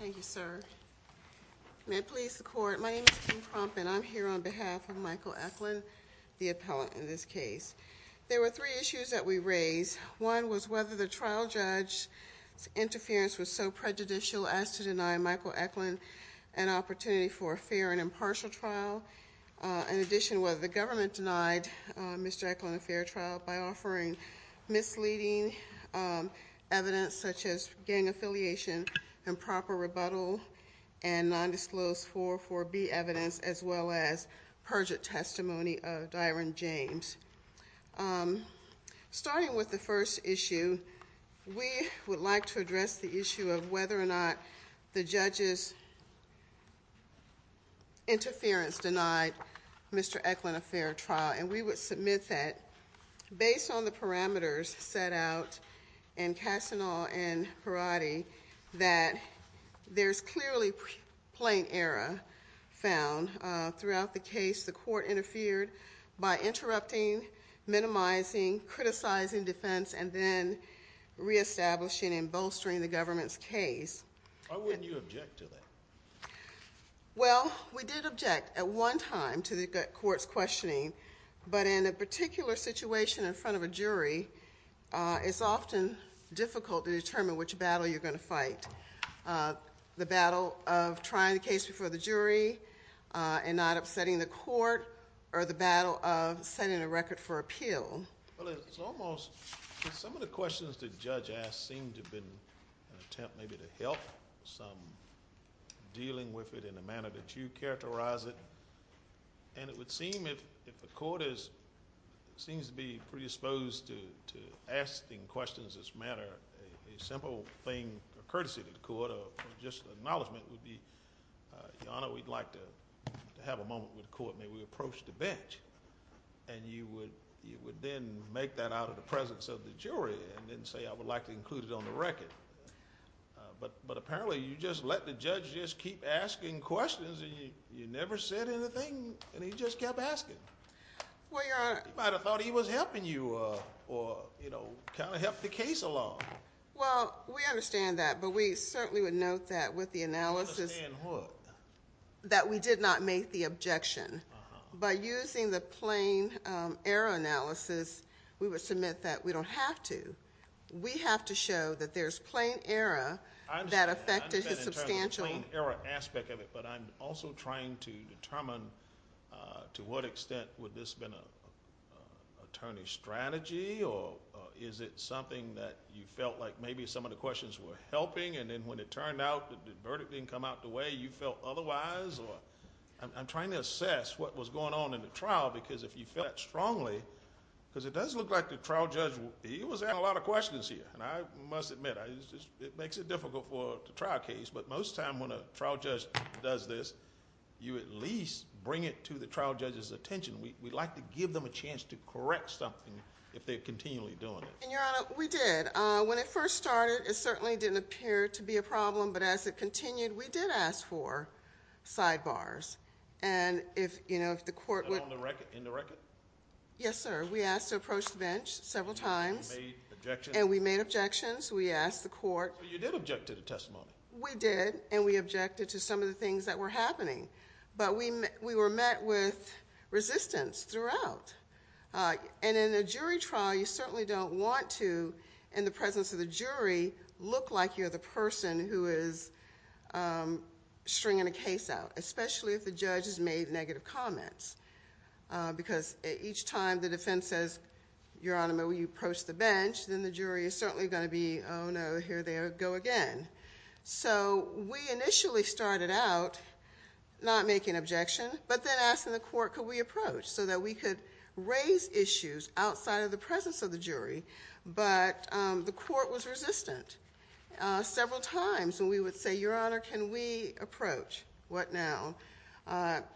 Thank you, sir. May it please the court, my name is Kim Crump and I'm here on behalf of Michael Ecklin, the appellant in this case. There were three issues that we raised. One was whether the trial judge's interference was so prejudicial as to deny Michael Ecklin an opportunity for a fair and impartial trial. In addition, whether the government denied Mr. Ecklin a fair trial by offering misleading evidence such as gang affiliation, improper rebuttal and nondisclosed 404B evidence as well as perjured testimony of Dyron James. And starting with the first issue, we would like to address the issue of whether or not the judge's interference denied Mr. Ecklin a fair trial. And we would submit that based on the parameters set out in Casanova and Perotti that there's clearly plain error found throughout the case. The court interfered by interrupting, minimizing, criticizing defense and then reestablishing and bolstering the government's case. Why wouldn't you object to that? Well, we did object at one time to the court's questioning, but in a particular situation in front of a jury, it's often difficult to determine which battle you're going to fight. The battle of trying the case before the jury and not upsetting the court or the battle of setting a record for appeal. Well, it's almost, some of the questions the judge asked seem to have been an attempt maybe to help some dealing with it in a manner that you characterize it. And it would seem if the court is, seems to be predisposed to asking questions that matter, a simple thing, a courtesy to the court or just an acknowledgment would be, Your Honor, we'd like to have a moment with the court. May we approach the bench? And you would then make that out of the presence of the jury and then say I would like to include it on the record. But apparently you just let the judge just keep asking questions and you never said anything and he just kept asking. Well, Your Honor. You might have thought he was helping you or, you know, kind of helped the case along. Well, we understand that, but we certainly would note that with the analysis You understand what? That we did not make the objection. By using the plain error analysis, we would submit that we don't have to. We have to show that there's plain error that affected his substantial I understand that in terms of the plain error aspect of it, but I'm also trying to determine to what extent would this have been an attorney's strategy or is it something that you felt like maybe some of the questions were helping and then when it turned out that the verdict didn't come out the way you felt otherwise? I'm trying to assess what was going on in the trial because if you felt that strongly, because it does look like the trial judge he was asking a lot of questions here and I must admit it makes it difficult for the to bring it to the trial judge's attention. We'd like to give them a chance to correct something if they're continually doing it. And, Your Honor, we did. When it first started, it certainly didn't appear to be a problem, but as it continued, we did ask for sidebars and if, you know, if the court would And on the record? Yes, sir. We asked to approach the bench several times. You made objections? And we made objections. We asked the court So you did object to the testimony? We did and we objected to some of the things that were happening, but we were met with resistance throughout. And in a jury trial, you certainly don't want to, in the presence of the jury, look like you're the person who is stringing a case out, especially if the judge has made negative comments because each time the defense says, Your Honor, will you So we initially started out not making objection, but then asking the court could we approach so that we could raise issues outside of the presence of the jury, but the court was resistant several times. And we would say, Your Honor, can we approach? What now?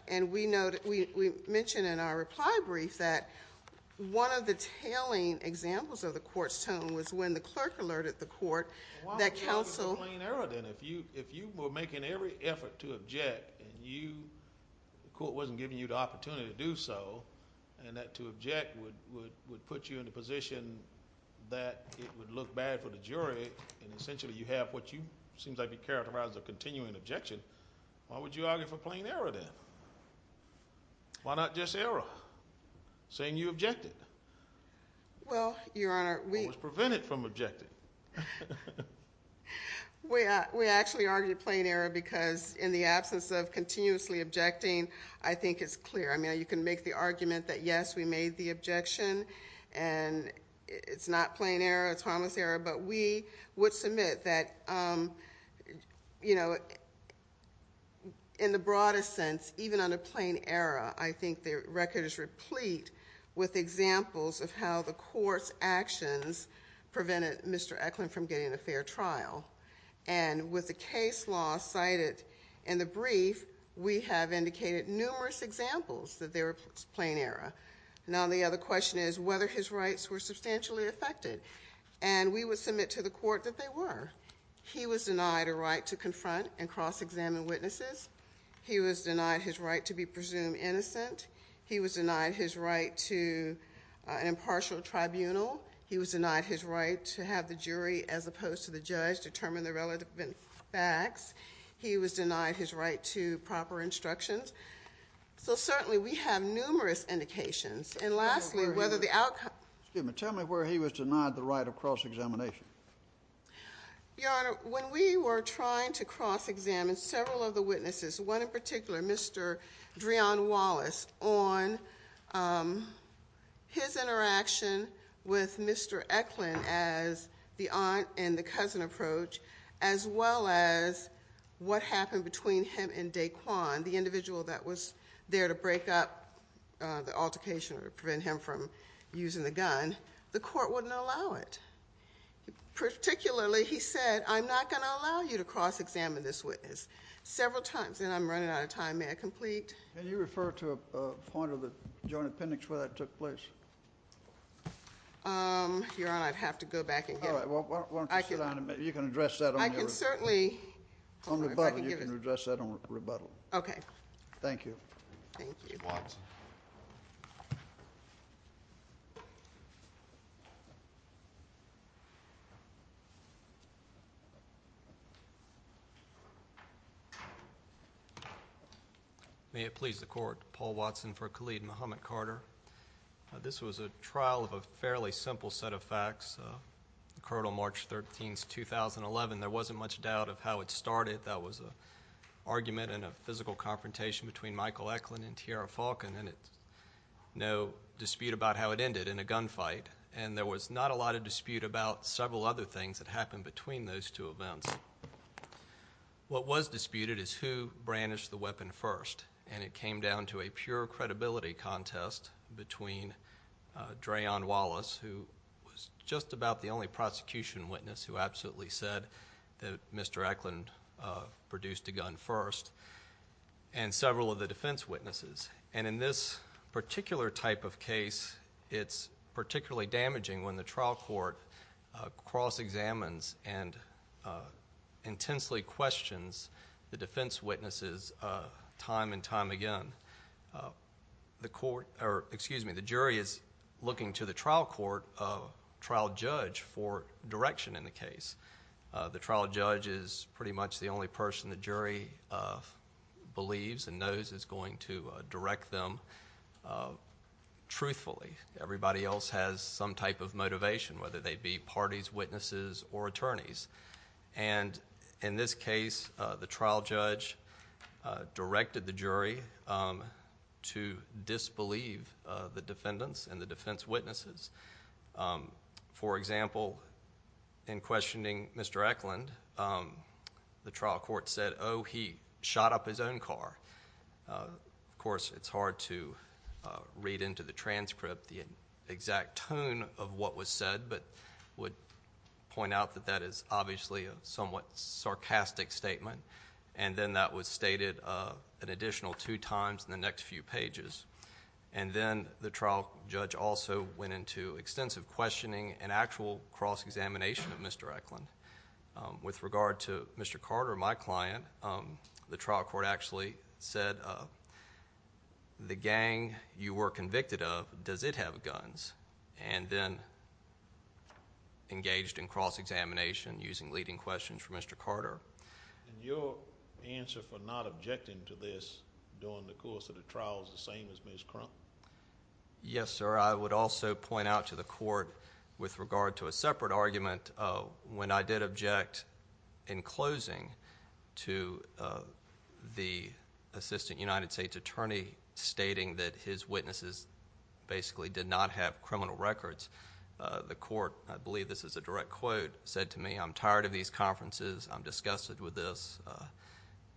And we know that we mentioned in our reply brief that one of the tailing examples of the court's tone was when the clerk alerted the court that counsel If you were making every effort to object and the court wasn't giving you the opportunity to do so, and that to object would put you in a position that it would look bad for the jury, and essentially you have what seems to be characterized as a continuing objection, why would you argue for plain error then? Why not just error, saying you objected? Well, Your Honor, we What was prevented from objecting? We actually argued plain error because in the absence of continuously objecting, I think it's clear. I mean, you can make the argument that yes, we made the objection and it's not plain error, it's harmless error, but we would submit that, you know, in the broadest sense, even under plain error, I think the record is replete with examples of how the court's prevented him from getting a fair trial. And with the case law cited in the brief, we have indicated numerous examples that there was plain error. Now the other question is whether his rights were substantially affected, and we would submit to the court that they were. He was denied a right to confront and cross-examine witnesses. He was denied his right to be presumed innocent. He was denied his right to an impartial tribunal. He was denied his right to have the jury, as opposed to the judge, determine the relevant facts. He was denied his right to proper instructions. So certainly we have numerous indications. And lastly, whether the outcome Excuse me. Tell me where he was denied the right of cross-examination. Your Honor, when we were trying to cross-examine several of the witnesses, one in particular, Mr. Dreon Wallace, on his interaction with Mr. Eklund as the aunt and the cousin approach, as well as what happened between him and Daquan, the individual that was there to break up the altercation or prevent him from using the gun, the court wouldn't allow it. Particularly he said, I'm not going to allow you to cross-examine this witness several times, and I'm running out of time. May I complete? Can you refer to a point of the joint appendix where that took place? Your Honor, I'd have to go back and get it. All right. Why don't you sit down and maybe you can address that on your rebuttal. I can certainly. On rebuttal, you can address that on rebuttal. Okay. Thank you. Thank you. Mr. Watson. May it please the Court. Paul Watson for Khalid Muhammad Carter. This was a trial of a fairly simple set of facts. The court on March 13, 2011. There wasn't much doubt of how it started. That was an argument and a physical confrontation between Michael Eklund and Tiara Falcon. And no dispute about how it ended in a gunfight. And there was not a lot of dispute about several other things that happened between those two events. What was disputed is who brandished the weapon first. And it came down to a pure credibility contest between Drayon Wallace, who was just about the only prosecution witness who absolutely said that Mr. Eklund produced a gun first, and several of the defense witnesses. And in this particular type of case, it's particularly damaging when the trial court cross-examines and intensely questions the defense witnesses time and time again. The jury is looking to the trial judge for direction in the case. The trial judge is pretty much the only person the jury believes and knows is going to direct them truthfully. Everybody else has some type of motivation, whether they be parties, witnesses, or attorneys. And in this case, the trial judge directed the jury to disbelieve the defendants and the defense witnesses. For example, in questioning Mr. Eklund, the trial court said, oh, he shot up his own car. Of course, it's hard to read into the transcript the exact tone of what was said, but I would point out that that is obviously a somewhat sarcastic statement. And then that was stated an additional two times in the next few pages. And then the trial judge also went into extensive questioning and actual cross-examination of Mr. Eklund. With regard to Mr. Carter, my client, the trial court actually said, the gang you were convicted of, does it have guns? And then engaged in cross-examination using leading questions from Mr. Carter. And your answer for not objecting to this during the course of the trial is the same as Ms. Crump? Yes, sir. I would also point out to the court with regard to a separate argument, when I did object in closing to the Assistant United States Attorney stating that his witnesses basically did not have criminal records, the court, I believe this is a direct quote, said to me, I'm tired of these conferences, I'm disgusted with this,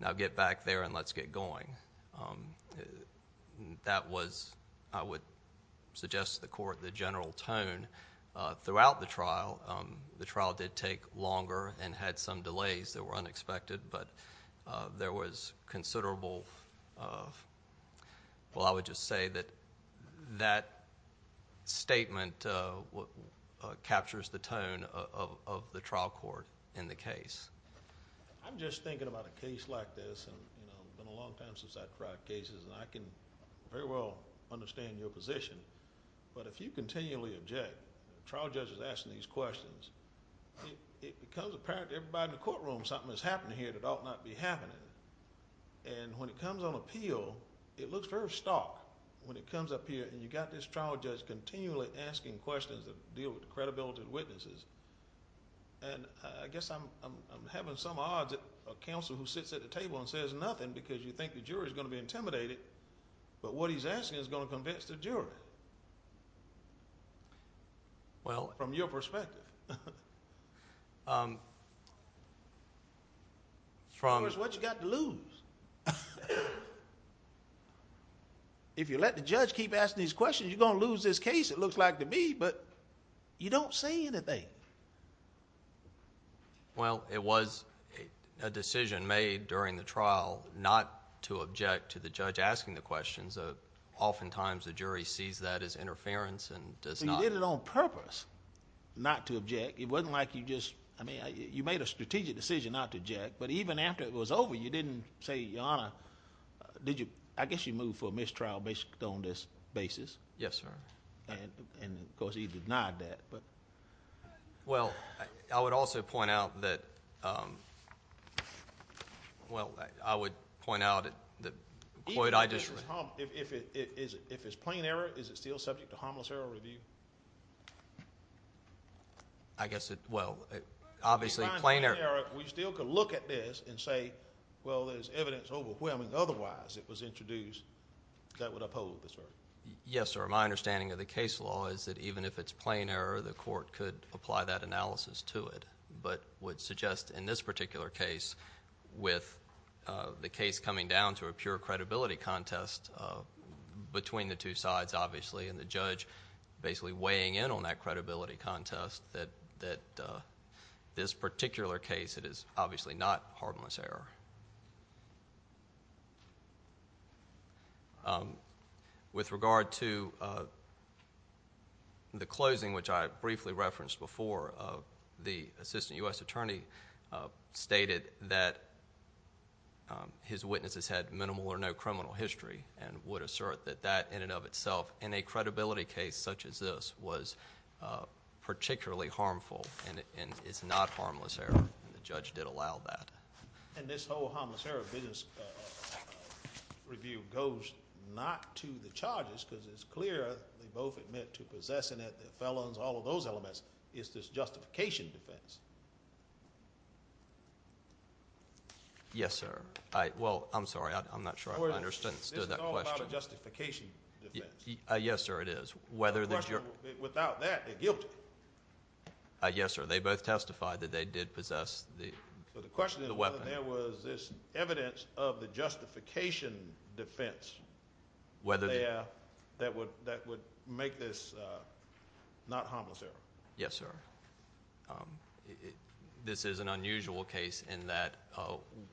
now get back there That was, I would suggest to the court, the general tone throughout the trial. The trial did take longer and had some delays that were unexpected, but there was considerable, well, I would just say that that statement captures the tone of the trial court in the case. I'm just thinking about a case like this, it's been a long time since I've tried cases, and I can very well understand your position, but if you continually object, the trial judge is asking these questions, it becomes apparent to everybody in the courtroom something is happening here that ought not be happening. And when it comes on appeal, it looks very stark when it comes up here and you've got this trial judge continually asking questions that deal with the credibility of the witnesses, and I guess I'm having some odds and says nothing because you think the jury is going to be intimidated, but what he's asking is going to convince the jury from your perspective. Of course, what you got to lose? If you let the judge keep asking these questions, you're going to lose this case, it looks like to me, but you don't say anything. Well, it was a decision made during the trial not to object to the judge asking the questions. Oftentimes, the jury sees that as interference and does not... But you did it on purpose, not to object. It wasn't like you just... You made a strategic decision not to object, but even after it was over, you didn't say, Your Honor, I guess you moved for a mistrial based on this basis. Yes, sir. And of course, he denied that. Well, I would also point out that... Even if it's... If it's plain error, is it still subject to harmless error review? I guess it... Well, obviously, plain error... We still could look at this and say, Well, there's evidence overwhelming otherwise it was introduced that would uphold the cert. Yes, sir. My understanding of the case law is that even if it's plain error, the court could apply that analysis to it, but would suggest in this particular case, with the case coming down to a pure credibility contest between the two sides, obviously, and the judge basically weighing in on that credibility contest, that this particular case, it is obviously not harmless error. With regard to the closing, which I briefly referenced before, the assistant U.S. attorney stated that his witnesses had minimal or no criminal history and would assert that that, in and of itself, in a credibility case such as this, was particularly harmful and is not harmless error, and the judge did allow that. And this whole harmless error business review goes not to the charges, because it's clear they both admit to possessing it, their felons, all of those elements, is this justification defense. Yes, sir. Well, I'm sorry, I'm not sure I understood that question. This is all about a justification defense. Yes, sir, it is. Without that, they're guilty. Yes, sir, they both testified that they did possess the weapon. The question is whether there was this evidence of the justification defense that would make this not harmless error. Yes, sir. This is an unusual case in that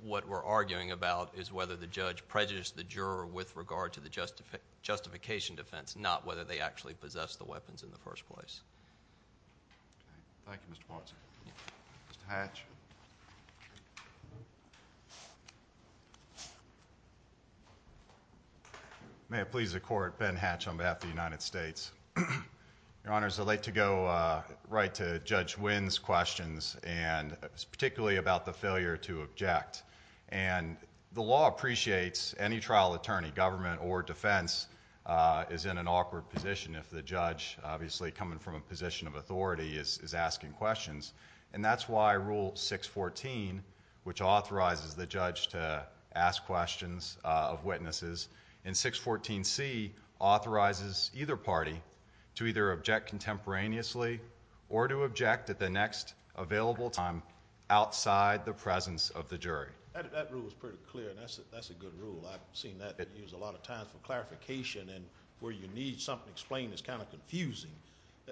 what we're arguing about is whether the judge prejudiced the juror with regard to the justification defense, not whether they actually possessed the weapons in the first place. Thank you, Mr. Ponson. Mr. Hatch. May it please the court, Ben Hatch on behalf of the United States. Your honors, I'd like to go right to Judge Wynn's questions and particularly about the failure to object. The law appreciates any trial attorney, government, or defense is in an awkward position if the judge, obviously, coming from a position of authority, is asking questions, and that's why Rule 614, which authorizes the judge to ask questions of witnesses, and 614C authorizes either party to either object contemporaneously or to object at the next available time outside the presence of the jury. That rule is pretty clear, and that's a good rule. I've seen that used a lot of times for clarification, and where you need something explained, it's kind of confusing.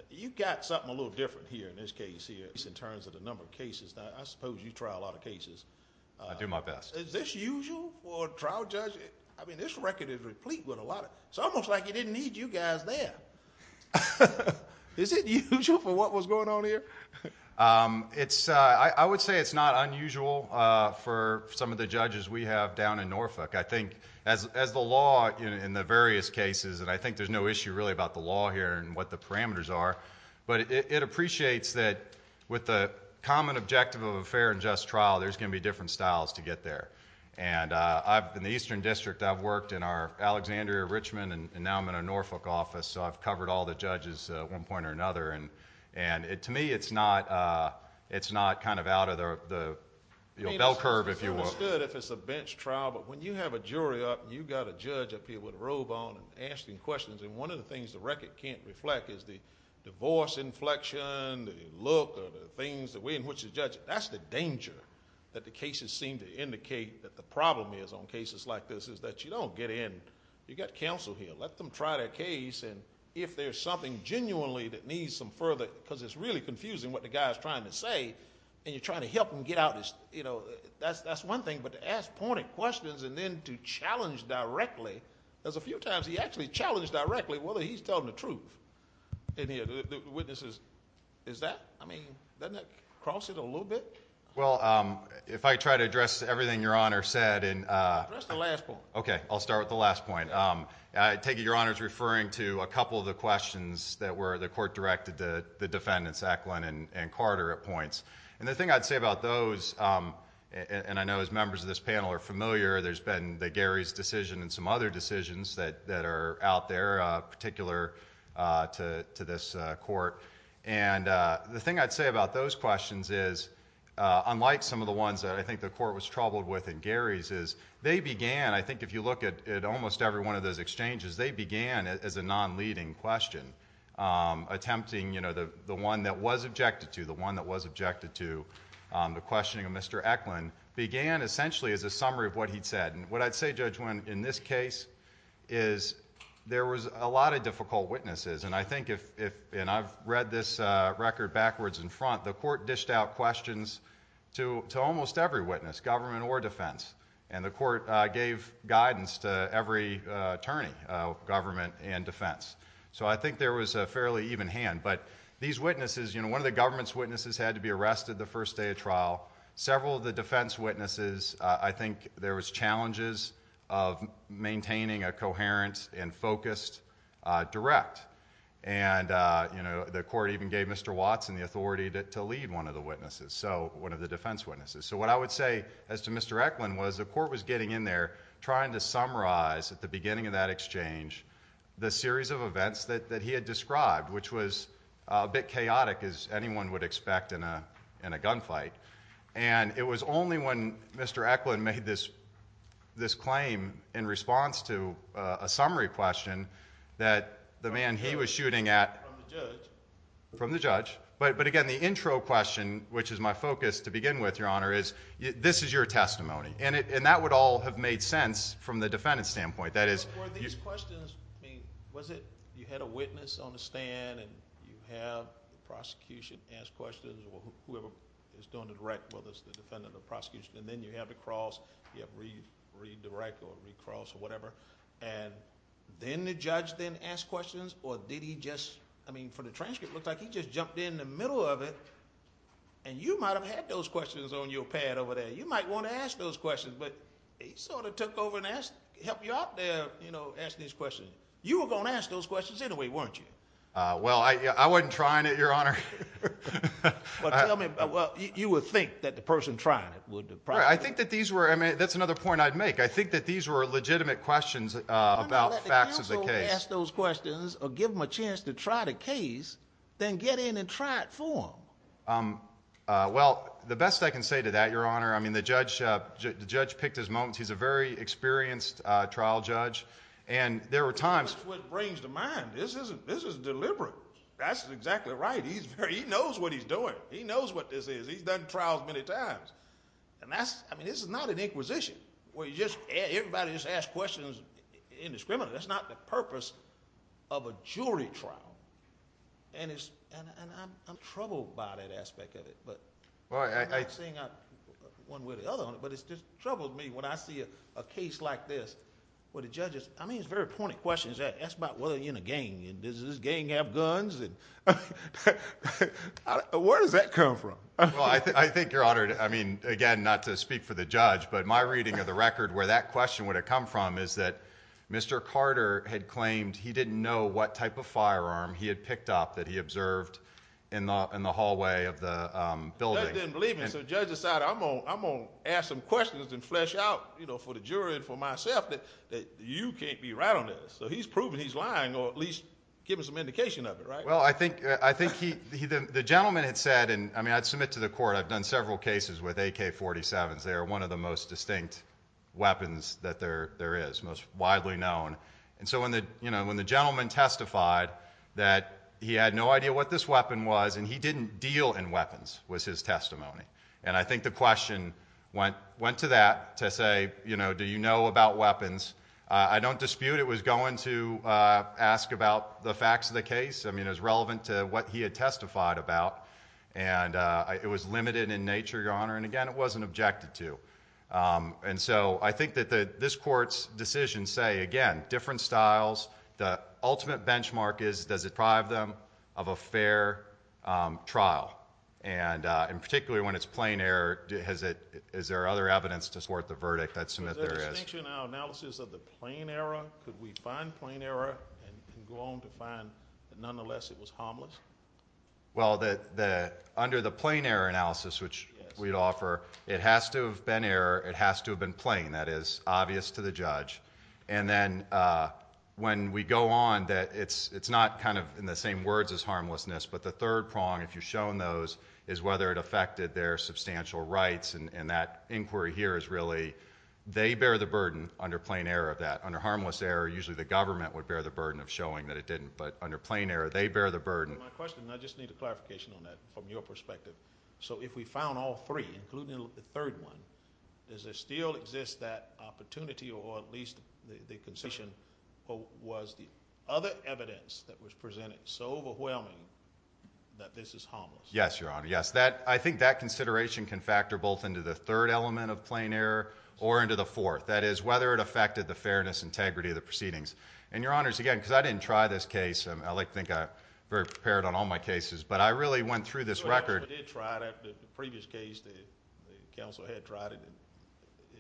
You've got something a little different here in this case here, in terms of the number of cases that I suppose you trial a lot of cases. I do my best. Is this usual for a trial judge? This record is replete with a lot of... It's almost like you didn't need you guys there. Is it usual for what was going on here? I would say it's not unusual for some of the judges we have down in Norfolk. I think as the law in the various cases, and I think there's no issue really about the law here and what the parameters are, but it appreciates that with the common objective of a fair and just trial there's going to be different styles to get there. In the Eastern District, I've worked in Alexandria, Richmond, and now I'm in a Norfolk office, so I've covered all the judges at one point or another. To me, it's not kind of out of the bell curve, if you will. It's understood if it's a bench trial, but when you have a jury up, and you've got a judge up here with a robe on and asking questions, and one of the things the record can't reflect is the voice inflection, the look, or the things in which the judge, that's the danger that the cases seem to indicate that the problem is on cases like this is that you don't get in. You've got counsel here. Let them try their case, and if there's something genuinely that needs some further, because it's really confusing what the guy is trying to say, and you're trying to help him get out his, you know, that's one thing, but to ask pointed questions and then to challenge directly, there's a few times he actually challenged directly whether he's telling the truth. The witnesses, is that, I mean, doesn't that cross it a little bit? Well, if I try to address everything Your Honor said, and Okay, I'll start with the last point. I take it Your Honor is referring to a couple of the questions that were the court directed to the defendants, Eklund and Carter at points, and the thing I'd say about those, and I know as members of this panel are familiar, there's been the Gary's decision and some other decisions that are out there, particular to this court, and the thing I'd say about those questions is unlike some of the ones that I think the court was troubled with in Gary's, is they began, I think if you look at almost every one of those exchanges, they began as a non-leading question, attempting, you know, the one that was objected to, the one that was objected to, the questioning of Mr. Eklund, began essentially as a summary of what he'd said, and what I'd say, Judge Winn, in this case, is there was a lot of difficult witnesses, and I think if, and I've read this record backwards and front, the court dished out questions to almost every witness, government or defense, and the court gave guidance to every attorney of government and defense, so I think there was a fairly even hand, but these witnesses, you know, one of the government's witnesses had to be arrested the first day of trial, several of the defense witnesses, I think there was challenges of focused, direct, and, you know, the court even gave Mr. Watson the authority to lead one of the witnesses, so, one of the defense witnesses, so what I would say, as to Mr. Eklund, was the court was getting in there trying to summarize, at the beginning of that exchange, the series of events that he had described, which was a bit chaotic, as anyone would expect in a gunfight, and it was only when Mr. Eklund made this claim, in summary question, that the man he was shooting at, from the judge, but again the intro question, which is my focus to begin with, your honor, is this is your testimony, and that would all have made sense from the defendant's standpoint that is, were these questions was it, you had a witness on the stand, and you have the prosecution ask questions, whoever is doing the direct, whether it's the defendant or the prosecution, and then you have to cross you have to redirect or cross or whatever, and then the judge then asked questions, or did he just, I mean for the transcript it looked like he just jumped in the middle of it and you might have had those questions on your pad over there, you might want to ask those questions, but he sort of took over and helped you out there you know, asking these questions, you were going to ask those questions anyway, weren't you? Well, I wasn't trying it, your honor but tell me well, you would think that the person trying it would probably, I think that these were that's another point I'd make, I think that these were legitimate questions about facts of the case. Why not let the counsel ask those questions or give them a chance to try the case then get in and try it for them well, the best I can say to that, your honor, I mean the judge the judge picked his moments, he's a very experienced trial judge and there were times that's what brings to mind, this is deliberate that's exactly right he knows what he's doing, he knows what this is, he's done trials many times and that's, I mean, this is not an inquisition where you just, everybody just asks questions indiscriminately, that's not the purpose of a jury trial and it's and I'm troubled by that aspect of it, but one way or the other, but it's just troubled me when I see a case like this, where the judge is, I mean it's very pointed questions, that's about whether you're in a gang, does this gang have guns and where does that come from? Well, I think your honor, I mean again, not to speak for the judge, but my reading of the record where that question would have come from is that Mr. Carter had claimed he didn't know what type of firearm he had picked up that he observed in the hallway of the building. The judge didn't believe him so the judge decided, I'm gonna ask some questions and flesh out, you know, for the jury and for myself, that you can't be right on this, so he's proving he's lying or at least giving some indication of it right? Well, I think the gentleman had said, and I mean I'd submit to the court, I've done several cases with AK-47s, they are one of the most distinct weapons that there is, most widely known and so when the gentleman testified that he had no idea what this weapon was and he didn't deal in weapons, was his testimony and I think the question went to that, to say do you know about weapons? I don't dispute it was going to ask about the facts of the case that he had testified about and it was limited in nature, Your Honor and again, it wasn't objected to and so I think that this court's decision say, again different styles, the ultimate benchmark is, does it deprive them of a fair trial and in particular when it's plain error, is there other evidence to support the verdict? I'd submit there is. In our analysis of the plain error, could we find plain error and go on to find that nonetheless it was harmless? Well, under the plain error analysis which we'd offer it has to have been error it has to have been plain, that is obvious to the judge and then when we go on that it's not kind of in the same words as harmlessness but the third prong if you shown those is whether it affected their substantial rights and that inquiry here is really they bear the burden under plain error of that under harmless error, usually the government would under plain error, they bear the burden I just need a clarification on that from your perspective so if we found all three including the third one does there still exist that opportunity or at least the was the other evidence that was presented so overwhelming that this is harmless? Yes, your honor, yes, I think that consideration can factor both into the third element of plain error or into the fourth, that is whether it affected the fairness, integrity of the proceedings and your honors, again, because I didn't try this case, I like to think I'm very prepared on all my cases, but I really went through this record, you did try it, the previous case, the counsel had tried it,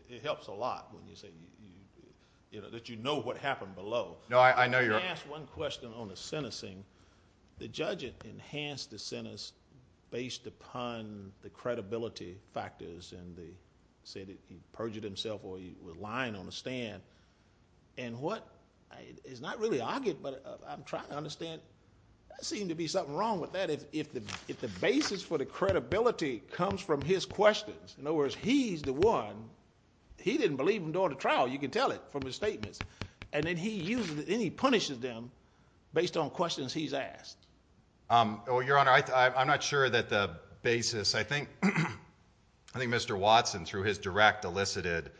it helps a lot when you say, you know that you know what happened below, I know you asked one question on the sentencing the judge enhanced the sentence based upon the credibility factors and they said he perjured himself or he was lying on the stand and what is not really argued, but I'm trying to understand, there seems to be something wrong with that, if the basis for the credibility comes from his questions, in other words, he's the one, he didn't believe him during the trial, you can tell it from his statements and then he punishes them based on questions he's asked. Your honor, I'm not sure that the basis I think Mr. Watson through his direct elicited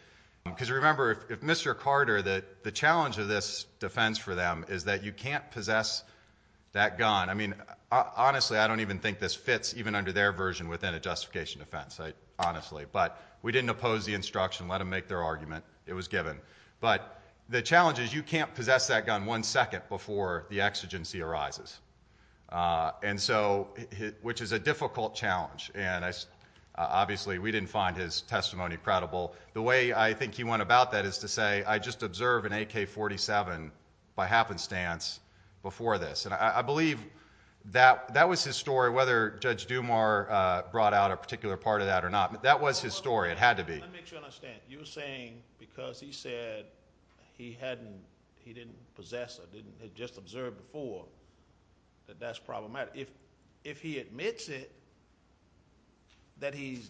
because remember, if Mr. Carter, the challenge of this defense for them is that you can't possess that gun, I mean honestly, I don't even think this fits even under their version within a justification defense honestly, but we didn't oppose the instruction, let them make their argument it was given, but the challenge is you can't possess that gun one second before the exigency arises and so which is a difficult challenge and obviously we didn't find his testimony credible the way I think he went about that is to say I just observed an AK-47 by happenstance before this, and I believe that was his story, whether Judge Dumar brought out a particular part of that or not, that was his story, it had to be let me make sure I understand, you're saying because he said he didn't possess or just observed before that that's problematic if he admits it that he's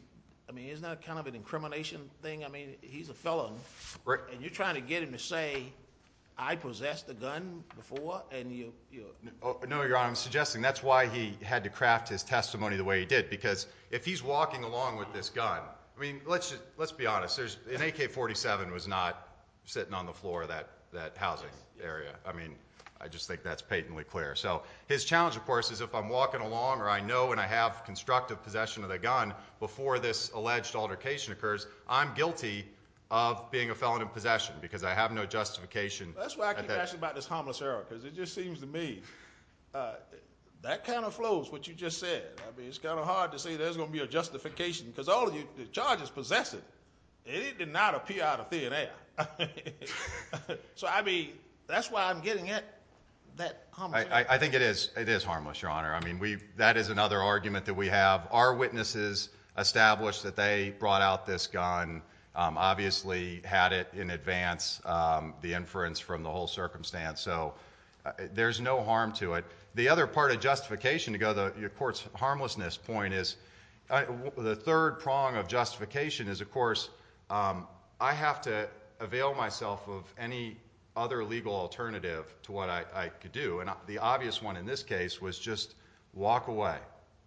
I mean, isn't that kind of an incrimination thing I mean, he's a felon, and you're trying to get him to say I possessed a gun before No, your honor, I'm suggesting that's why he had to craft his testimony the way he did, because if he's walking along with this gun, I mean let's be honest, an AK-47 was not sitting on the floor of that housing area I just think that's patently clear his challenge, of course, is if I'm walking along or I know and I have constructive possession of the gun before this alleged altercation occurs, I'm guilty of being a felon in possession because I have no justification That's why I keep asking about this harmless error, because it just seems to me that kind of flows, what you just said it's kind of hard to say there's going to be a justification because all of you, the charges possess it it did not appear out of thin air so I mean that's why I'm getting at that harmless error I think it is harmless, your honor that is another argument that we have our witnesses established that they brought out this gun obviously had it in advance the inference from the whole circumstance so there's no harm to it the other part of justification, to go to the court's harmlessness point is the third prong of justification is of course I have to avail myself of any other legal alternative to what I could do and the obvious one in this case was just walk away,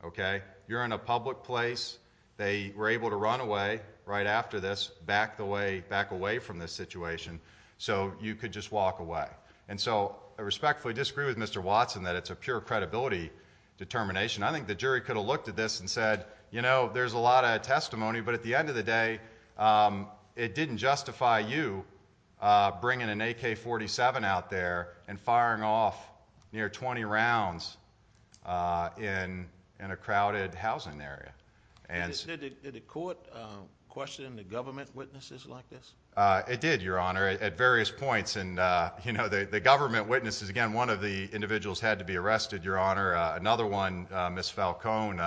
okay you're in a public place they were able to run away right after this back away from this situation so you could just walk away and so I respectfully disagree with Mr. Watson that it's a pure credibility determination I think the jury could have looked at this and said you know, there's a lot of testimony but at the end of the day it didn't justify you bringing an AK-47 out there and firing off near 20 rounds in a crowded housing area Did the court question the government witnesses like this? It did, your honor, at various points, and you know, the government witnesses, again, one of the individuals had to be arrested, your honor, another one Miss Falcone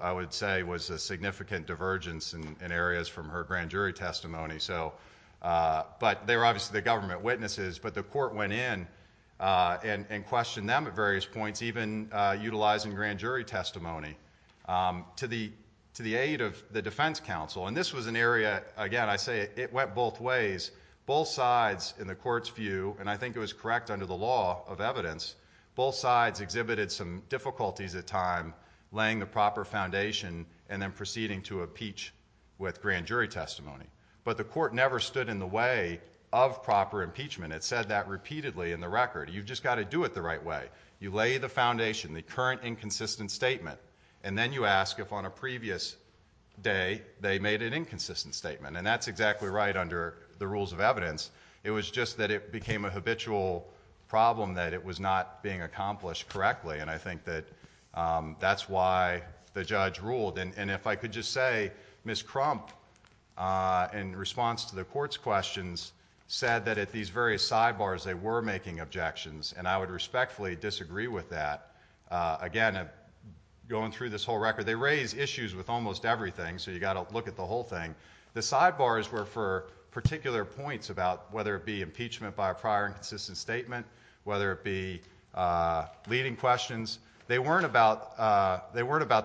I would say was a significant divergence in areas from her grand but they were obviously the government witnesses but the court went in and questioned them at various points even utilizing grand jury testimony to the aid of the defense council and this was an area, again, I say it went both ways, both sides in the court's view, and I think it was correct under the law of evidence both sides exhibited some difficulties at times, laying the proper foundation and then proceeding to impeach with grand jury testimony but the court never stood in the way of proper impeachment, it said that repeatedly in the record, you've just got to do it the right way, you lay the foundation the current inconsistent statement and then you ask if on a previous day, they made an inconsistent statement, and that's exactly right under the rules of evidence it was just that it became a habitual problem that it was not being accomplished correctly, and I think that that's why the judge ruled, and if I could just say Ms. Crump in response to the court's questions said that at these various sidebars they were making objections, and I would respectfully disagree with that again, going through this whole record, they raise issues with almost everything, so you've got to look at the whole thing the sidebars were for particular points about whether it be impeachment by a prior inconsistent statement whether it be leading questions, they weren't about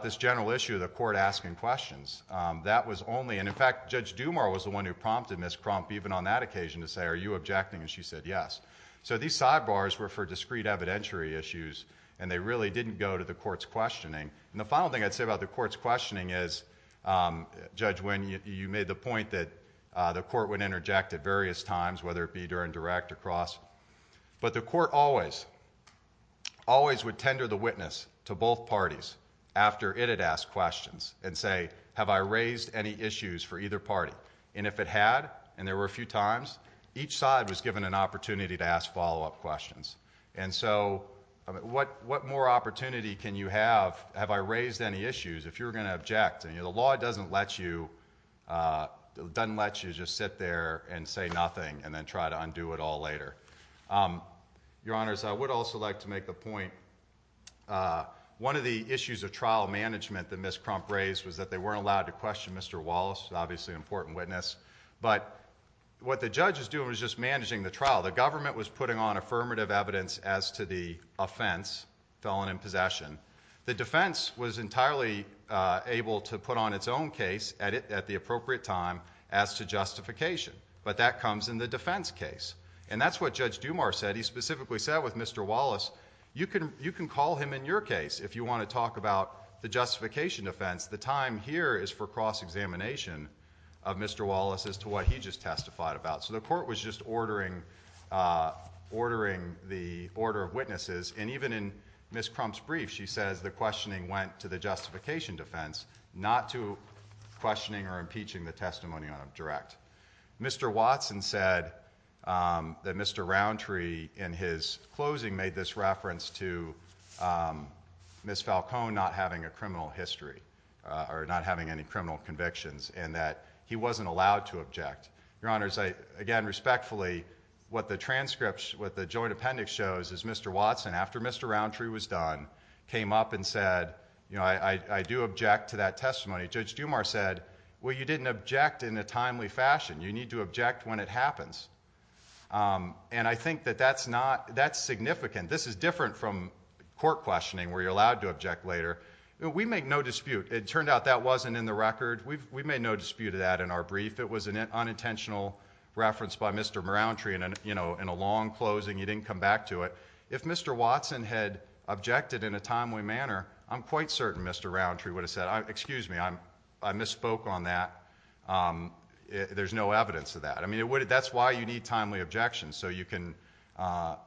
this general issue the court asking questions that was only, and in fact, Judge Dumar was the one who prompted Ms. Crump even on that occasion to say, are you objecting, and she said yes so these sidebars were for discrete evidentiary issues, and they really didn't go to the court's questioning and the final thing I'd say about the court's questioning is Judge Wynn, you made the point that the court would interject at various times, whether it be during direct or cross, but the court always would tender the witness to both questions, and say, have I raised any issues for either party and if it had, and there were a few times each side was given an opportunity to ask follow-up questions and so, what more opportunity can you have, have I raised any issues, if you're going to object the law doesn't let you doesn't let you just sit there and say nothing, and then try to undo it all later your honors, I would also like to make the point one of the questions that Ms. Crump raised was that they weren't allowed to question Mr. Wallace, obviously an important witness but, what the judge was doing was just managing the trial, the government was putting on affirmative evidence as to the offense, felon in possession, the defense was entirely able to put on its own case at the appropriate time, as to justification but that comes in the defense case and that's what Judge Dumar said, he specifically said with Mr. Wallace, you can call him in your case, if you want to talk about the justification defense the time here is for cross-examination of Mr. Wallace as to what he just testified about, so the court was just ordering ordering the order of witnesses and even in Ms. Crump's brief, she says the questioning went to the justification defense, not to questioning or impeaching the testimony on a direct Mr. Watson said that Mr. Roundtree in his closing made this reference to Ms. Falcone not having a criminal history, or not having any criminal convictions, and that he wasn't allowed to object your honors, again respectfully what the transcripts, what the joint appendix shows is Mr. Watson, after Mr. Roundtree was done, came up and said, you know, I do object to that testimony, Judge Dumar said well you didn't object in a timely fashion, you need to object when it happens and I think that that's not, that's significant and this is different from court questioning where you're allowed to object later we make no dispute, it turned out that wasn't in the record, we made no dispute of that in our brief, it was an unintentional reference by Mr. Roundtree in a long closing, he didn't come back to it, if Mr. Watson had objected in a timely manner I'm quite certain Mr. Roundtree would have said, excuse me, I misspoke on that there's no evidence of that, I mean that's why you need timely objections, so you can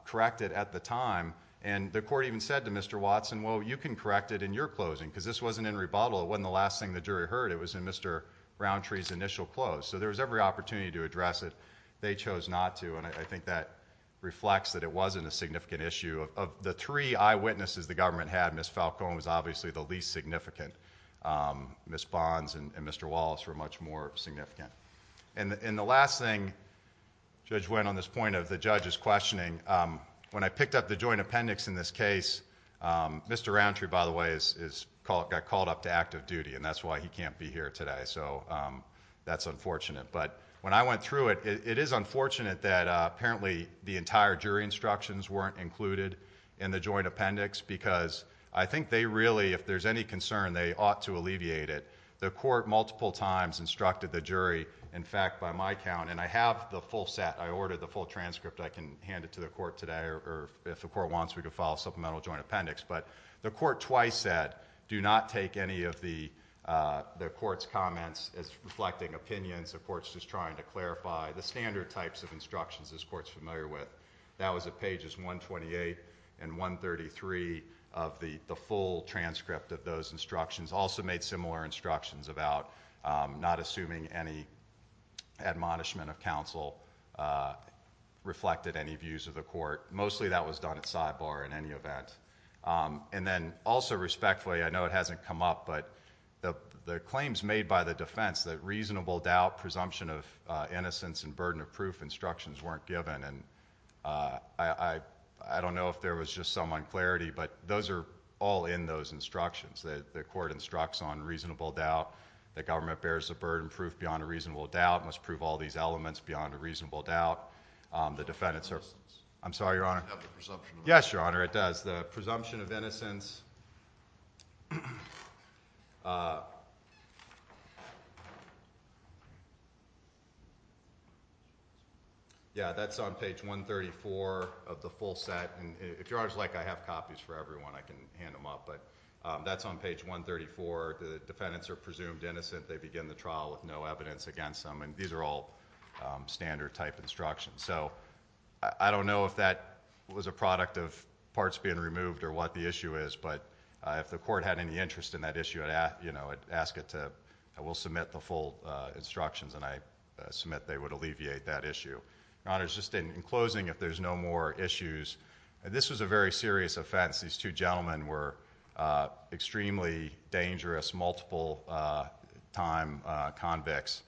correct it at the time and the court even said to Mr. Watson, well you can correct it in your closing, because this wasn't in rebuttal, it wasn't the last thing the jury heard it was in Mr. Roundtree's initial close, so there was every opportunity to address it they chose not to, and I think that reflects that it wasn't a significant issue, of the three eyewitnesses the government had, Ms. Falcone was obviously the least significant Ms. Bonds and Mr. Wallace were much more significant and the last thing Judge Wynn, on this point of the judge's questioning, when I picked up the joint appendix in this case Mr. Roundtree, by the way got called up to active duty and that's why he can't be here today, so that's unfortunate, but when I went through it, it is unfortunate that apparently the entire jury instructions weren't included in the joint appendix, because they ought to alleviate it, the court multiple times instructed the jury in fact, by my count, and I have the full set, I ordered the full transcript I can hand it to the court today, or if the court wants, we can file a supplemental joint appendix but the court twice said do not take any of the the court's comments as reflecting opinions, the court's just trying to clarify the standard types of instructions this court's familiar with, that was at pages 128 and 133 of the full transcript of those instructions also made similar instructions about not assuming any admonishment of counsel reflected any views of the court, mostly that was done at sidebar in any event and then also respectfully I know it hasn't come up, but the claims made by the defense that reasonable doubt, presumption of innocence, and burden of proof instructions weren't given I don't know if there was just some unclarity, but those are all in those instructions, the court instructs on reasonable doubt the government bears the burden of proof beyond a reasonable doubt, must prove all these elements beyond a reasonable doubt I'm sorry your honor yes your honor, it does, the presumption of innocence yeah, that's on page 134 of the full set, and if your honor is like I have copies for everyone, I can hand them up but that's on page 134 the defendants are presumed innocent they begin the trial with no evidence against them and these are all standard type instructions, so I don't know if that was a product of parts being removed or what the issue is, but if the court had any interest in that issue, I'd ask it to, I will submit the full instructions, and I submit they would alleviate that issue your honor, just in closing, if there's no more issues, this was a very serious offense, these two gentlemen were extremely dangerous multiple time convicts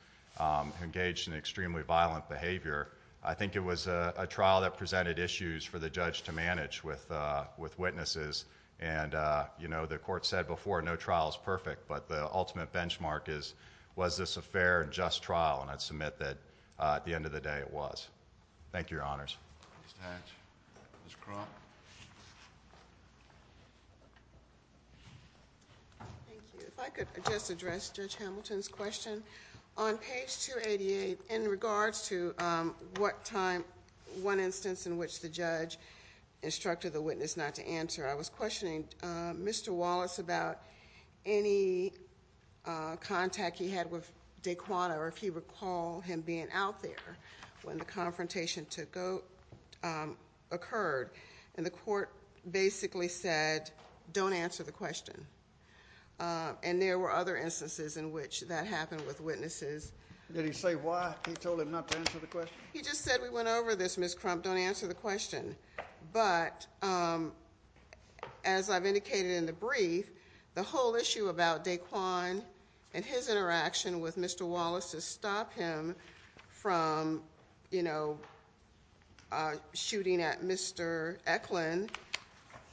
engaged in extremely violent behavior I think it was a trial that presented issues for the judge to manage with witnesses and you know, the court said before no trial is perfect, but the ultimate benchmark is, was this a fair and just trial, and I'd submit that at the end of the day, it was thank you your honors Ms. Hatch, Ms. Croft Thank you, if I could just address Judge Hamilton's question on page 288, in regards to what time one instance in which the judge instructed the witness not to answer, I was questioning Mr. Wallace about any contact he had with Daquan, or if he recall him being out there when the confrontation occurred and the court basically said, don't answer the question and there were other instances in which that happened with witnesses. Did he say why he told him not to answer the question? He just said we went over this Ms. Crump, don't answer the question but as I've indicated in the brief, the whole issue about Daquan and his interaction with Mr. Wallace to stop him from you know shooting at Mr. Eklund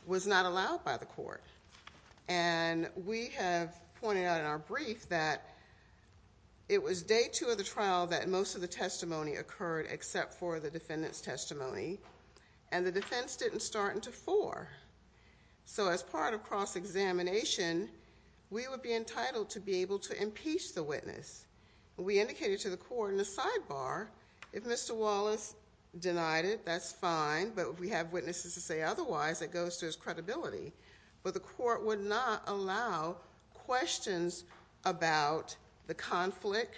was not allowed by the court and we have pointed out in our brief that it was day two of the trial that most of the testimony occurred except for the defendant's testimony and the defense didn't start until four, so as part of cross-examination we would be entitled to be able to impeach the witness and we indicated to the court in the sidebar if Mr. Wallace denied it, that's fine, but if we have witnesses to say otherwise, it goes to his credibility, but the court would not allow questions about the conflict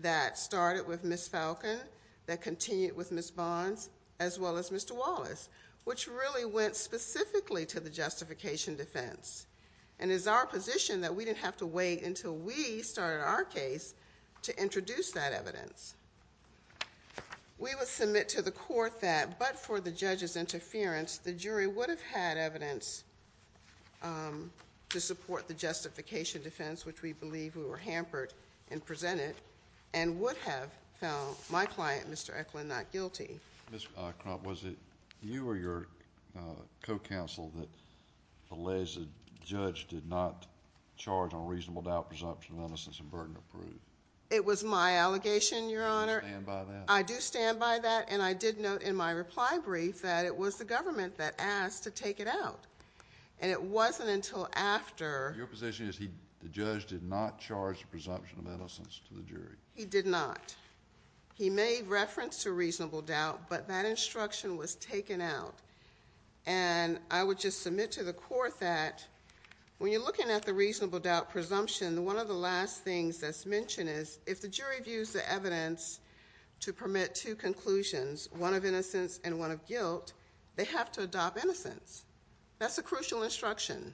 that started with Ms. Falcon, that continued with Ms. Bonds, as well as Mr. Wallace, which really went specifically to the justification defense and it's our position that we didn't have to wait until we started our case to introduce that evidence we would submit to the court that, but for the judge's interference the jury would have had evidence to support the justification defense which we believe we were hampered in presenting and would have found my client, Mr. Eklund, not guilty. Ms. Crump, was it you or your co-counsel that belays that the judge did not charge on reasonable doubt, presumption of innocence and burden of proof? It was my allegation, Your Honor. Do you stand by that? I do stand by that and I did note in my reply brief that it was the government that asked to take it out and it wasn't until after Your position is the judge did not charge presumption of innocence to the jury? He did not. He made reference to reasonable doubt, but that instruction was taken out and I would just submit to the court that when you're looking at the reasonable doubt presumption, one of the last things that's mentioned is if the jury views the evidence to permit two conclusions, one of innocence and one of guilt, they have to adopt innocence. That's a crucial instruction.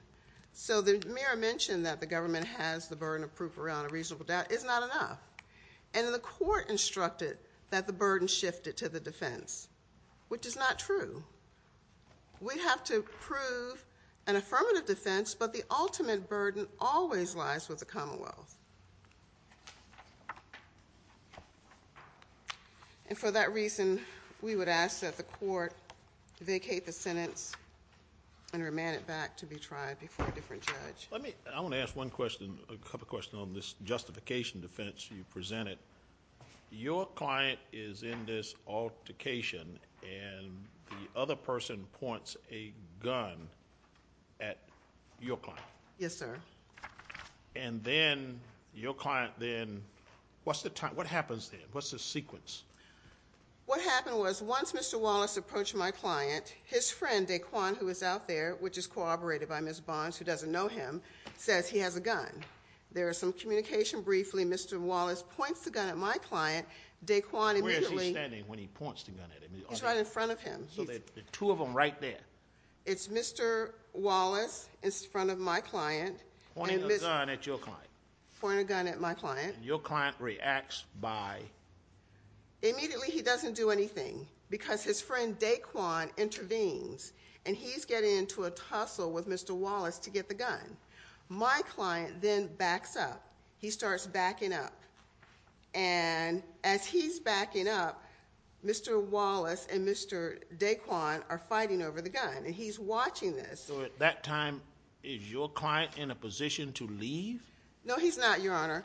So the mayor mentioned that the government has the burden of proof around a reasonable doubt. It's not enough. And the court instructed that the burden shifted to the defense which is not true. We have to prove an affirmative defense but the ultimate burden always lies with the commonwealth. And for that reason, we would ask that the court vacate the sentence and remand it back to be tried before a different judge. I want to ask one question, a couple questions on this justification defense you presented. Your client is in this altercation and the other person points a gun at your client. Yes sir. And then your client then what's the time, what happens then? What's the sequence? What happened was once Mr. Wallace approached my client, his friend Daquan who is out there, which is corroborated by Ms. Barnes who doesn't know him, says he has a gun. There is some communication briefly, Mr. Wallace points the gun at my client, Daquan Where is he standing when he points the gun at him? He's right in front of him. The two of them right there. It's Mr. Wallace in front of my client. Pointing a gun at your client. Pointing a gun at my client. Your client reacts by? Immediately he doesn't do anything because his friend Daquan intervenes and he's getting into a tussle with Mr. Wallace to get the gun. My client then backs up. He starts backing up and as he's backing up Mr. Wallace and Mr. Daquan are fighting over the gun and he's watching this. So at that time is your client in a position to leave? No he's not, Your Honor.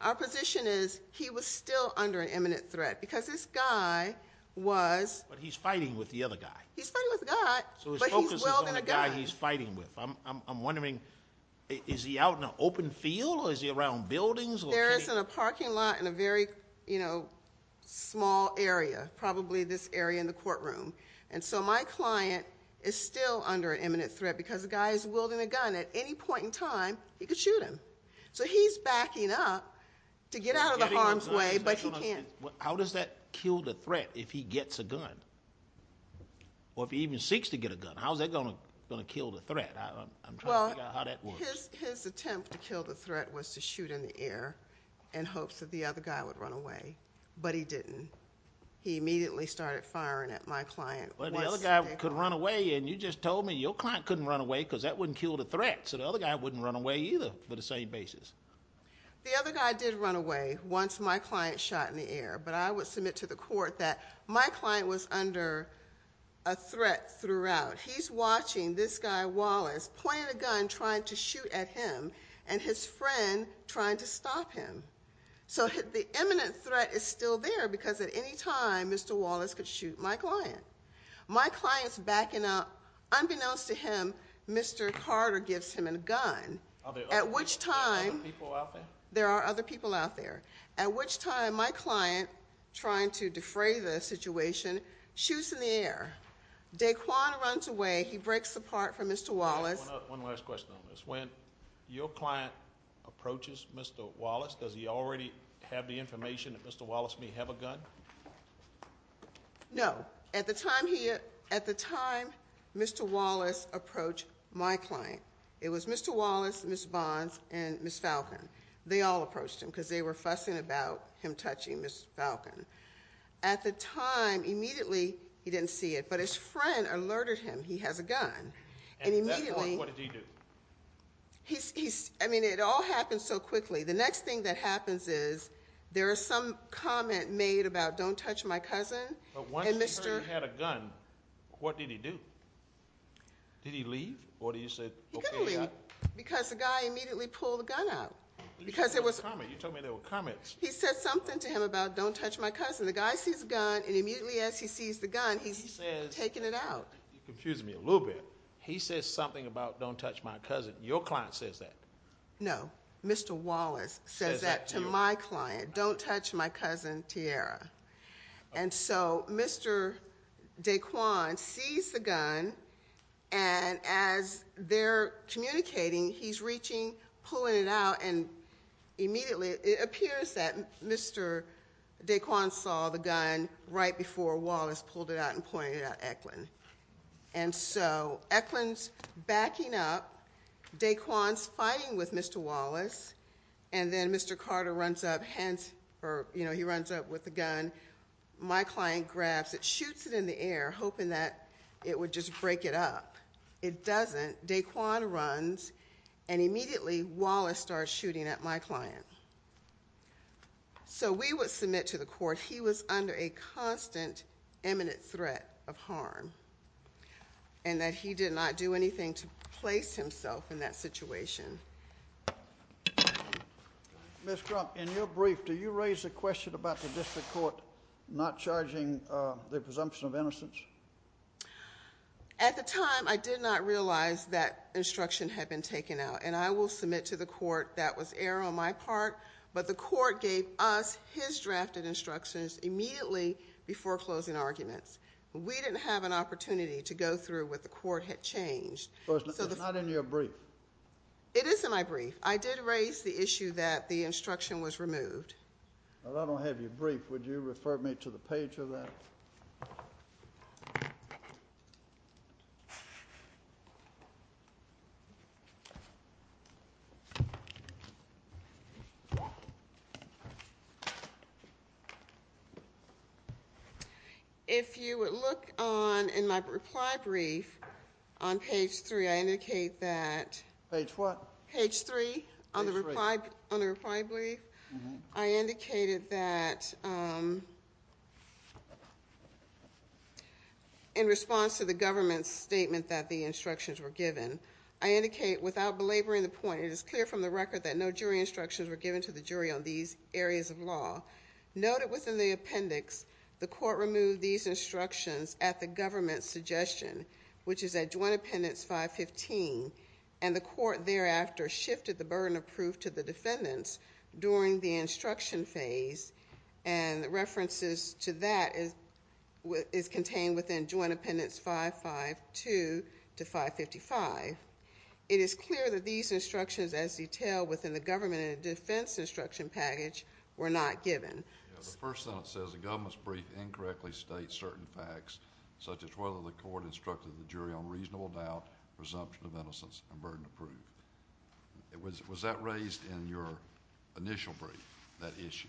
Our position is he was still under an imminent threat because this guy was... But he's fighting with the other guy. He's fighting with the guy but he's wielding a gun. So his focus is on the guy he's fighting with. I'm wondering, is he out in an open field or is he around buildings? There is in a parking lot in a very, you know, small area. Probably this area in the courtroom. And so my client is still under an imminent threat because the guy is wielding a gun. At any point in time he could shoot him. So he's backing up to get out of the harm's way but he can't. How does that kill the threat if he gets a gun? Or if he even seeks to get a gun. How's that going to kill the threat? I'm trying to figure out how that works. His attempt to kill the threat was to shoot in the air in hopes that the other guy would run away. But he didn't. He immediately started firing at my client. But the other guy could run away and you just told me your client couldn't run away because that wouldn't kill the threat. So the other guy wouldn't run away either for the same basis. The other guy did run away once my client shot in the air. But I would submit to the court that my client was under a threat throughout. He's watching this guy Mr. Wallace pointing a gun trying to shoot at him and his friend trying to stop him. So the imminent threat is still there because at any time Mr. Wallace could shoot my client. My client's backing up. Unbeknownst to him, Mr. Carter gives him a gun. At which time there are other people out there. At which time my client trying to defray the situation shoots in the air. Daquan runs away. He breaks apart from Mr. Wallace. One last question on this. When your client approaches Mr. Wallace, does he already have the information that Mr. Wallace may have a gun? No. At the time Mr. Wallace approached my client. It was Mr. Wallace, Ms. Bonds and Ms. Falcon. They all approached him because they were fussing about him touching Ms. Falcon. At the time immediately he didn't see it. But his friend alerted him he has a gun. And immediately... What did he do? It all happened so quickly. The next thing that happens is there is some comment made about don't touch my cousin. What did he do? Did he leave? He couldn't leave because the guy immediately pulled the gun out. You told me there were comments. He said something to him about don't touch my cousin. The guy sees the gun and immediately as he sees the gun he's taking it out. You're confusing me a little bit. He says something about don't touch my cousin. Your client says that. No. Mr. Wallace says that to my client. Don't touch my cousin, Tiara. And so Mr. Daquan sees the gun and as they're communicating he's reaching, pulling it out and immediately it appears that Mr. Daquan saw the gun right before Wallace pulled it out and pointed it at Eklund. And so Eklund's backing up. Daquan's fighting with Mr. Wallace and then Mr. Carter runs up, he runs up with the gun. My client grabs it, shoots it in the air hoping that it would just break it up. It doesn't. Daquan runs and immediately Wallace starts shooting at my client. So we would submit to the court he was under a constant imminent threat of harm and that he did not do anything to place himself in that situation. Ms. Crump, in your brief do you raise the question about the district court not charging the presumption of innocence? At the time I did not realize that instruction had been taken out and I will submit to the court that was error on my part but the court gave us his drafted instructions immediately before closing arguments. We didn't have an opportunity to go through what the court had changed. It's not in your brief. It is in my brief. I did raise the issue that the instruction was removed. I don't have your brief. Would you refer me to the page of that? Okay. If you would look on in my reply brief on page 3 I indicate that Page what? Page 3 on the reply brief I indicated that in response to the government's statement that the instructions were given I indicate without belaboring the point it is clear from the record that no jury instructions were given to the jury on these areas of law. Noted within the appendix the court removed these instructions at the government's suggestion which is at Joint Appendix 515 and the court thereafter shifted the burden of proof to the defendants during the instruction phase and references to that is contained within Joint Appendix 552 to 555 it is clear that these instructions as detailed within the government and defense instruction package were not given. The first sentence says the government's brief incorrectly states certain facts such as whether the court instructed the jury on reasonable doubt presumption of innocence and burden of proof. Was that raised in your initial brief that issue?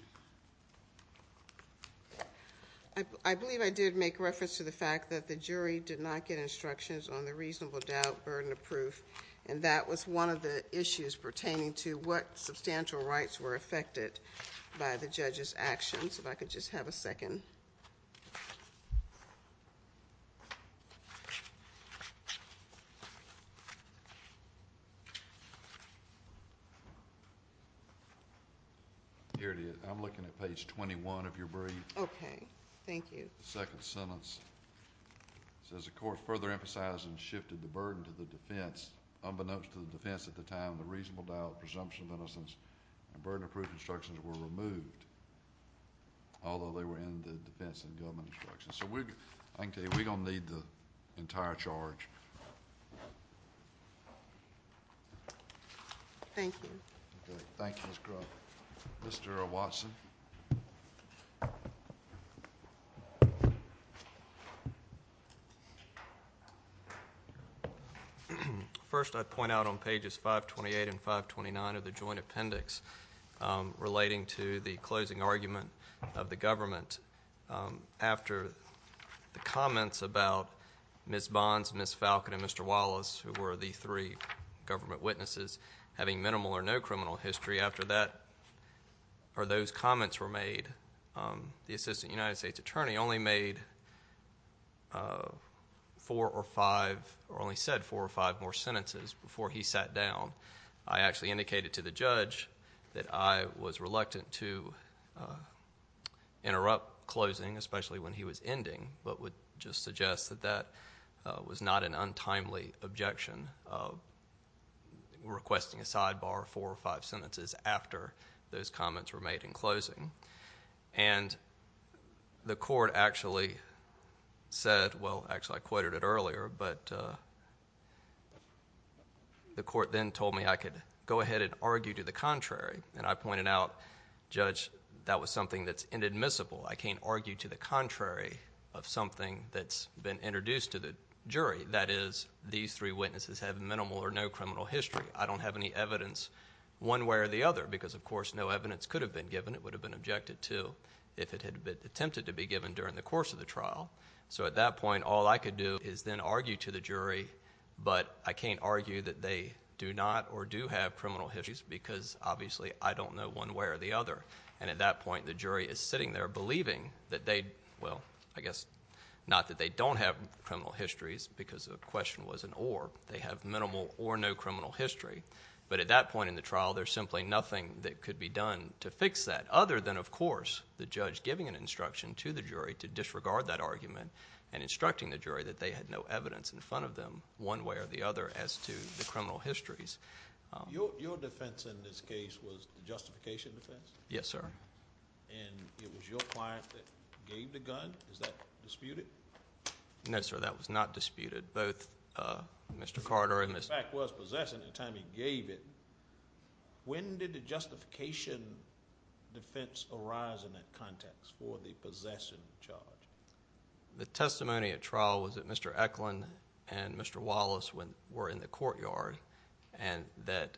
I believe I did make reference to the fact that the jury did not get instructions on the reasonable doubt burden of proof and that was one of the issues pertaining to what substantial rights were affected by the judge's actions. If I could just have a second. Here it is. I'm looking at page 21 of your brief. Okay. Thank you. The second sentence says the court further emphasized and shifted the burden to the defense unbeknownst to the defense at the time the reasonable doubt presumption of innocence and burden of proof instructions were removed although they were in the defense and government instructions. I can tell you we're going to need the entire charge. Thank you. Thank you Ms. Crump. Mr. Watson. Thank you. First I'd point out on pages 528 and 529 of the joint appendix relating to the closing argument of the government after the comments about Ms. Bonds, Ms. Falcon and Mr. Wallace who were the three government witnesses having minimal or no criminal history. After that or those comments were made the assistant United States attorney only made four or five or only said four or five more sentences before he sat down. I actually indicated to the judge that I was reluctant to interrupt closing especially when he was ending but would just suggest that that was not an untimely objection of requesting a sidebar four or five sentences after those comments were made in closing. And the court actually said well actually I quoted it earlier but the court then told me I could go ahead and argue to the contrary and I pointed out judge that was something that's inadmissible. I can't argue to the contrary of something that's been introduced to the jury that is these three witnesses have minimal or no criminal history. I don't have any evidence one way or the other because of course no evidence could have been given. It would have been objected to if it had attempted to be given during the course of the trial. So at that point all I could do is then argue to the jury but I can't argue that they do not or do have criminal histories because obviously I don't know one way or the other. And at that point the jury is sitting there believing that they, well I guess not that they don't have criminal histories because the question was an or. They have minimal or no criminal history but at that point in the trial there's simply nothing that could be done to fix that other than of course the judge giving an instruction to the jury to disregard that argument and instructing the jury that they had no evidence in front of them one way or the other as to the criminal histories. Your defense in this case was justification defense? Yes sir. And it was your client that gave the gun? Is that disputed? No sir that was not disputed both Mr. Carter and Mr. Eklund. When did the justification defense arise in that context for the possession charge? The testimony at trial was that Mr. Eklund and Mr. Wallace were in the courtyard and that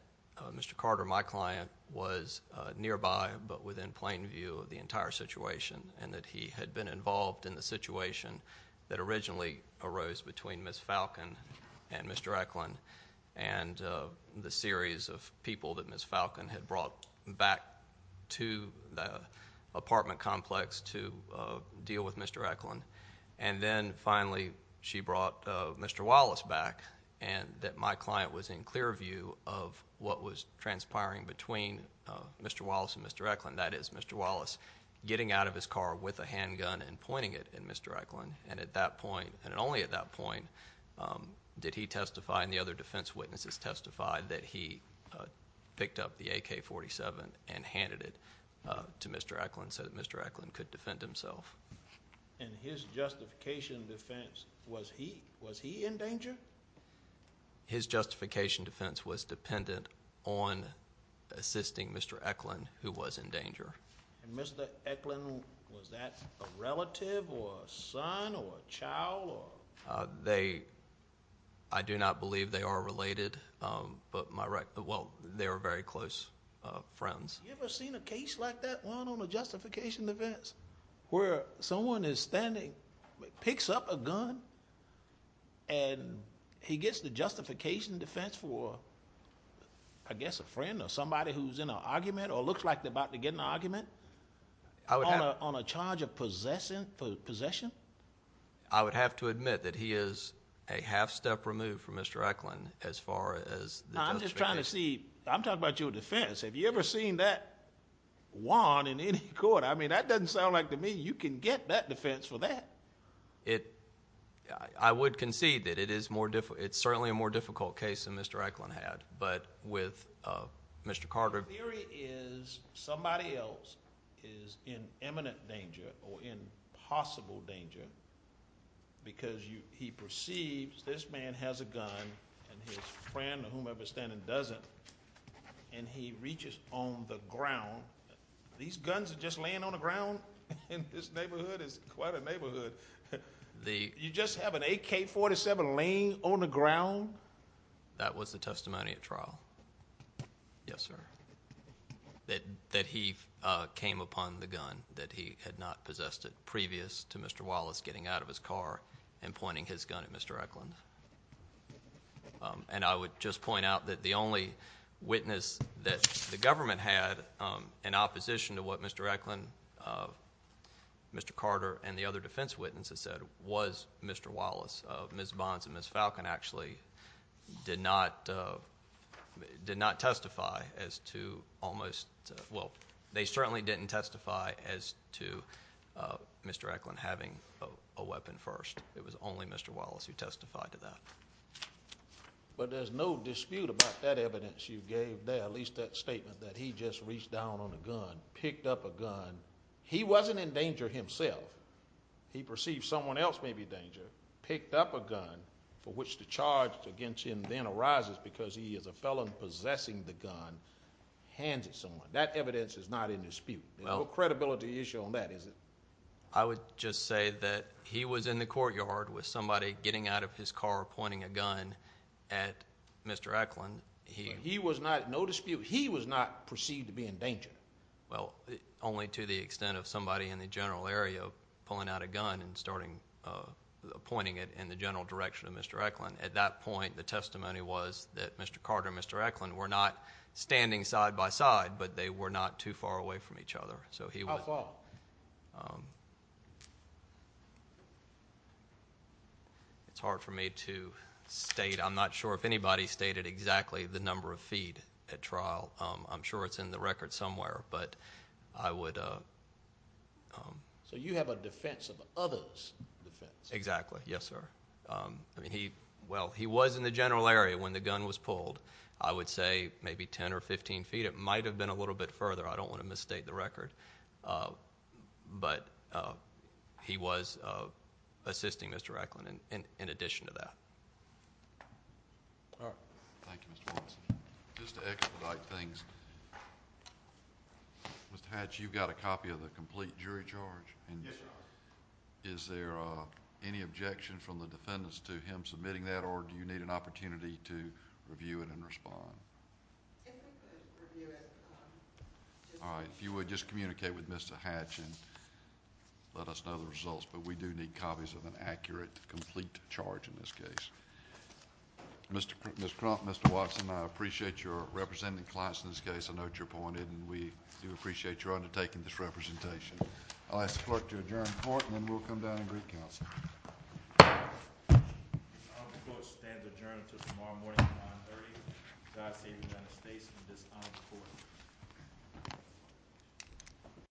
Mr. Carter my client was nearby but within plain view of the entire situation and that he had been involved in the situation that originally arose between Ms. Falcon and Mr. Eklund and the series of people that Ms. Falcon had brought back to the apartment complex to deal with Mr. Eklund and then finally she brought Mr. Wallace back and that my client was in clear view of what was transpiring between Mr. Wallace and Mr. Eklund that is Mr. Wallace getting out of his car with a handgun and pointing it at Mr. Eklund and at that point and only at that point did he testify and the other defense witnesses testified that he picked up the AK-47 and handed it to Mr. Eklund so that Mr. Eklund could defend himself. And his justification defense was he in danger? His justification defense was dependent on assisting Mr. Eklund who was in danger. And Mr. Eklund was that a relative or a son or a child? I do not believe they are related but they were very close friends. Have you ever seen a case like that one on a justification defense where someone is standing, picks up a gun and he gets the justification defense for I guess a friend or somebody who's in an argument or looks like they're about to get in an argument on a charge of possession? I would have to admit that he is a half step removed from Mr. Eklund as far as the justification defense. I'm talking about your defense. Have you ever seen that one in any court? I mean that doesn't sound like to me you can get that defense for that. I would concede that it is more difficult. It's certainly a more difficult case than Mr. Eklund had but with Mr. Carter. The theory is somebody else is in imminent danger or in possible danger because he perceives this man has a gun and his friend or whomever is standing doesn't and he reaches on the ground. These guns are just laying on the ground and this neighborhood is quite a neighborhood. You just have an AK-47 laying on the ground? That was the testimony at trial. Yes, sir. That he came upon the gun. That he had not possessed it previous to Mr. Wallace getting out of his car and pointing his gun at Mr. Eklund. I would just point out that the only witness that the government had in opposition to what Mr. Eklund Mr. Carter and the other defense witnesses said was Mr. Wallace. Ms. Bonds and Ms. Falcon actually did not testify as to almost well, they certainly didn't testify as to Mr. Eklund having a weapon first. It was only Mr. Wallace who testified to that. But there's no dispute about that evidence you gave there, at least that statement that he just reached down on a gun, picked up a gun. He wasn't in danger himself. He perceived someone else may be in danger. Picked up a gun, for which the charge against him then arises because he is a felon possessing the gun, hands it someone. That evidence is not in dispute. No credibility issue on that, is it? I would just say that he was in the courtyard with somebody getting out of his car pointing a gun at Mr. Eklund. He was not, no dispute, he was not perceived to be in danger. Well, only to the extent of somebody in the general area pulling out a gun and starting pointing it in the general direction of Mr. Eklund. At that point, the testimony was that Mr. Carter and Mr. Eklund were not standing side by side, but they were not too far away from each other. How far? It's hard for me to state. I'm not sure if anybody stated exactly the number of feet at trial. I'm sure it's in the record somewhere, but I would... So you have a defense of others' defense? Exactly. Yes, sir. Well, he was in the general area when the gun was pulled. I would say maybe 10 or 15 feet. It might have been a little bit further. I don't want to misstate the record. But he was assisting Mr. Eklund in addition to that. Thank you, Mr. Morrison. Just to expedite things, Mr. Hatch, you've got a copy of the complete jury charge? Yes, sir. Is there any objection from the defendants to him submitting that, or do you need an opportunity to review it and respond? If you would, just communicate with Mr. Hatch and let us know the results, but we do need copies of an accurate, complete charge in this case. Ms. Crump, Mr. Watson, I appreciate your representing clients in this case. I know how much you're pointed, and we do appreciate your undertaking this representation. I'll ask the clerk to adjourn the court, and then we'll come down and greet counsel. The court stands adjourned until tomorrow morning at 930. God save the United States and this honored court.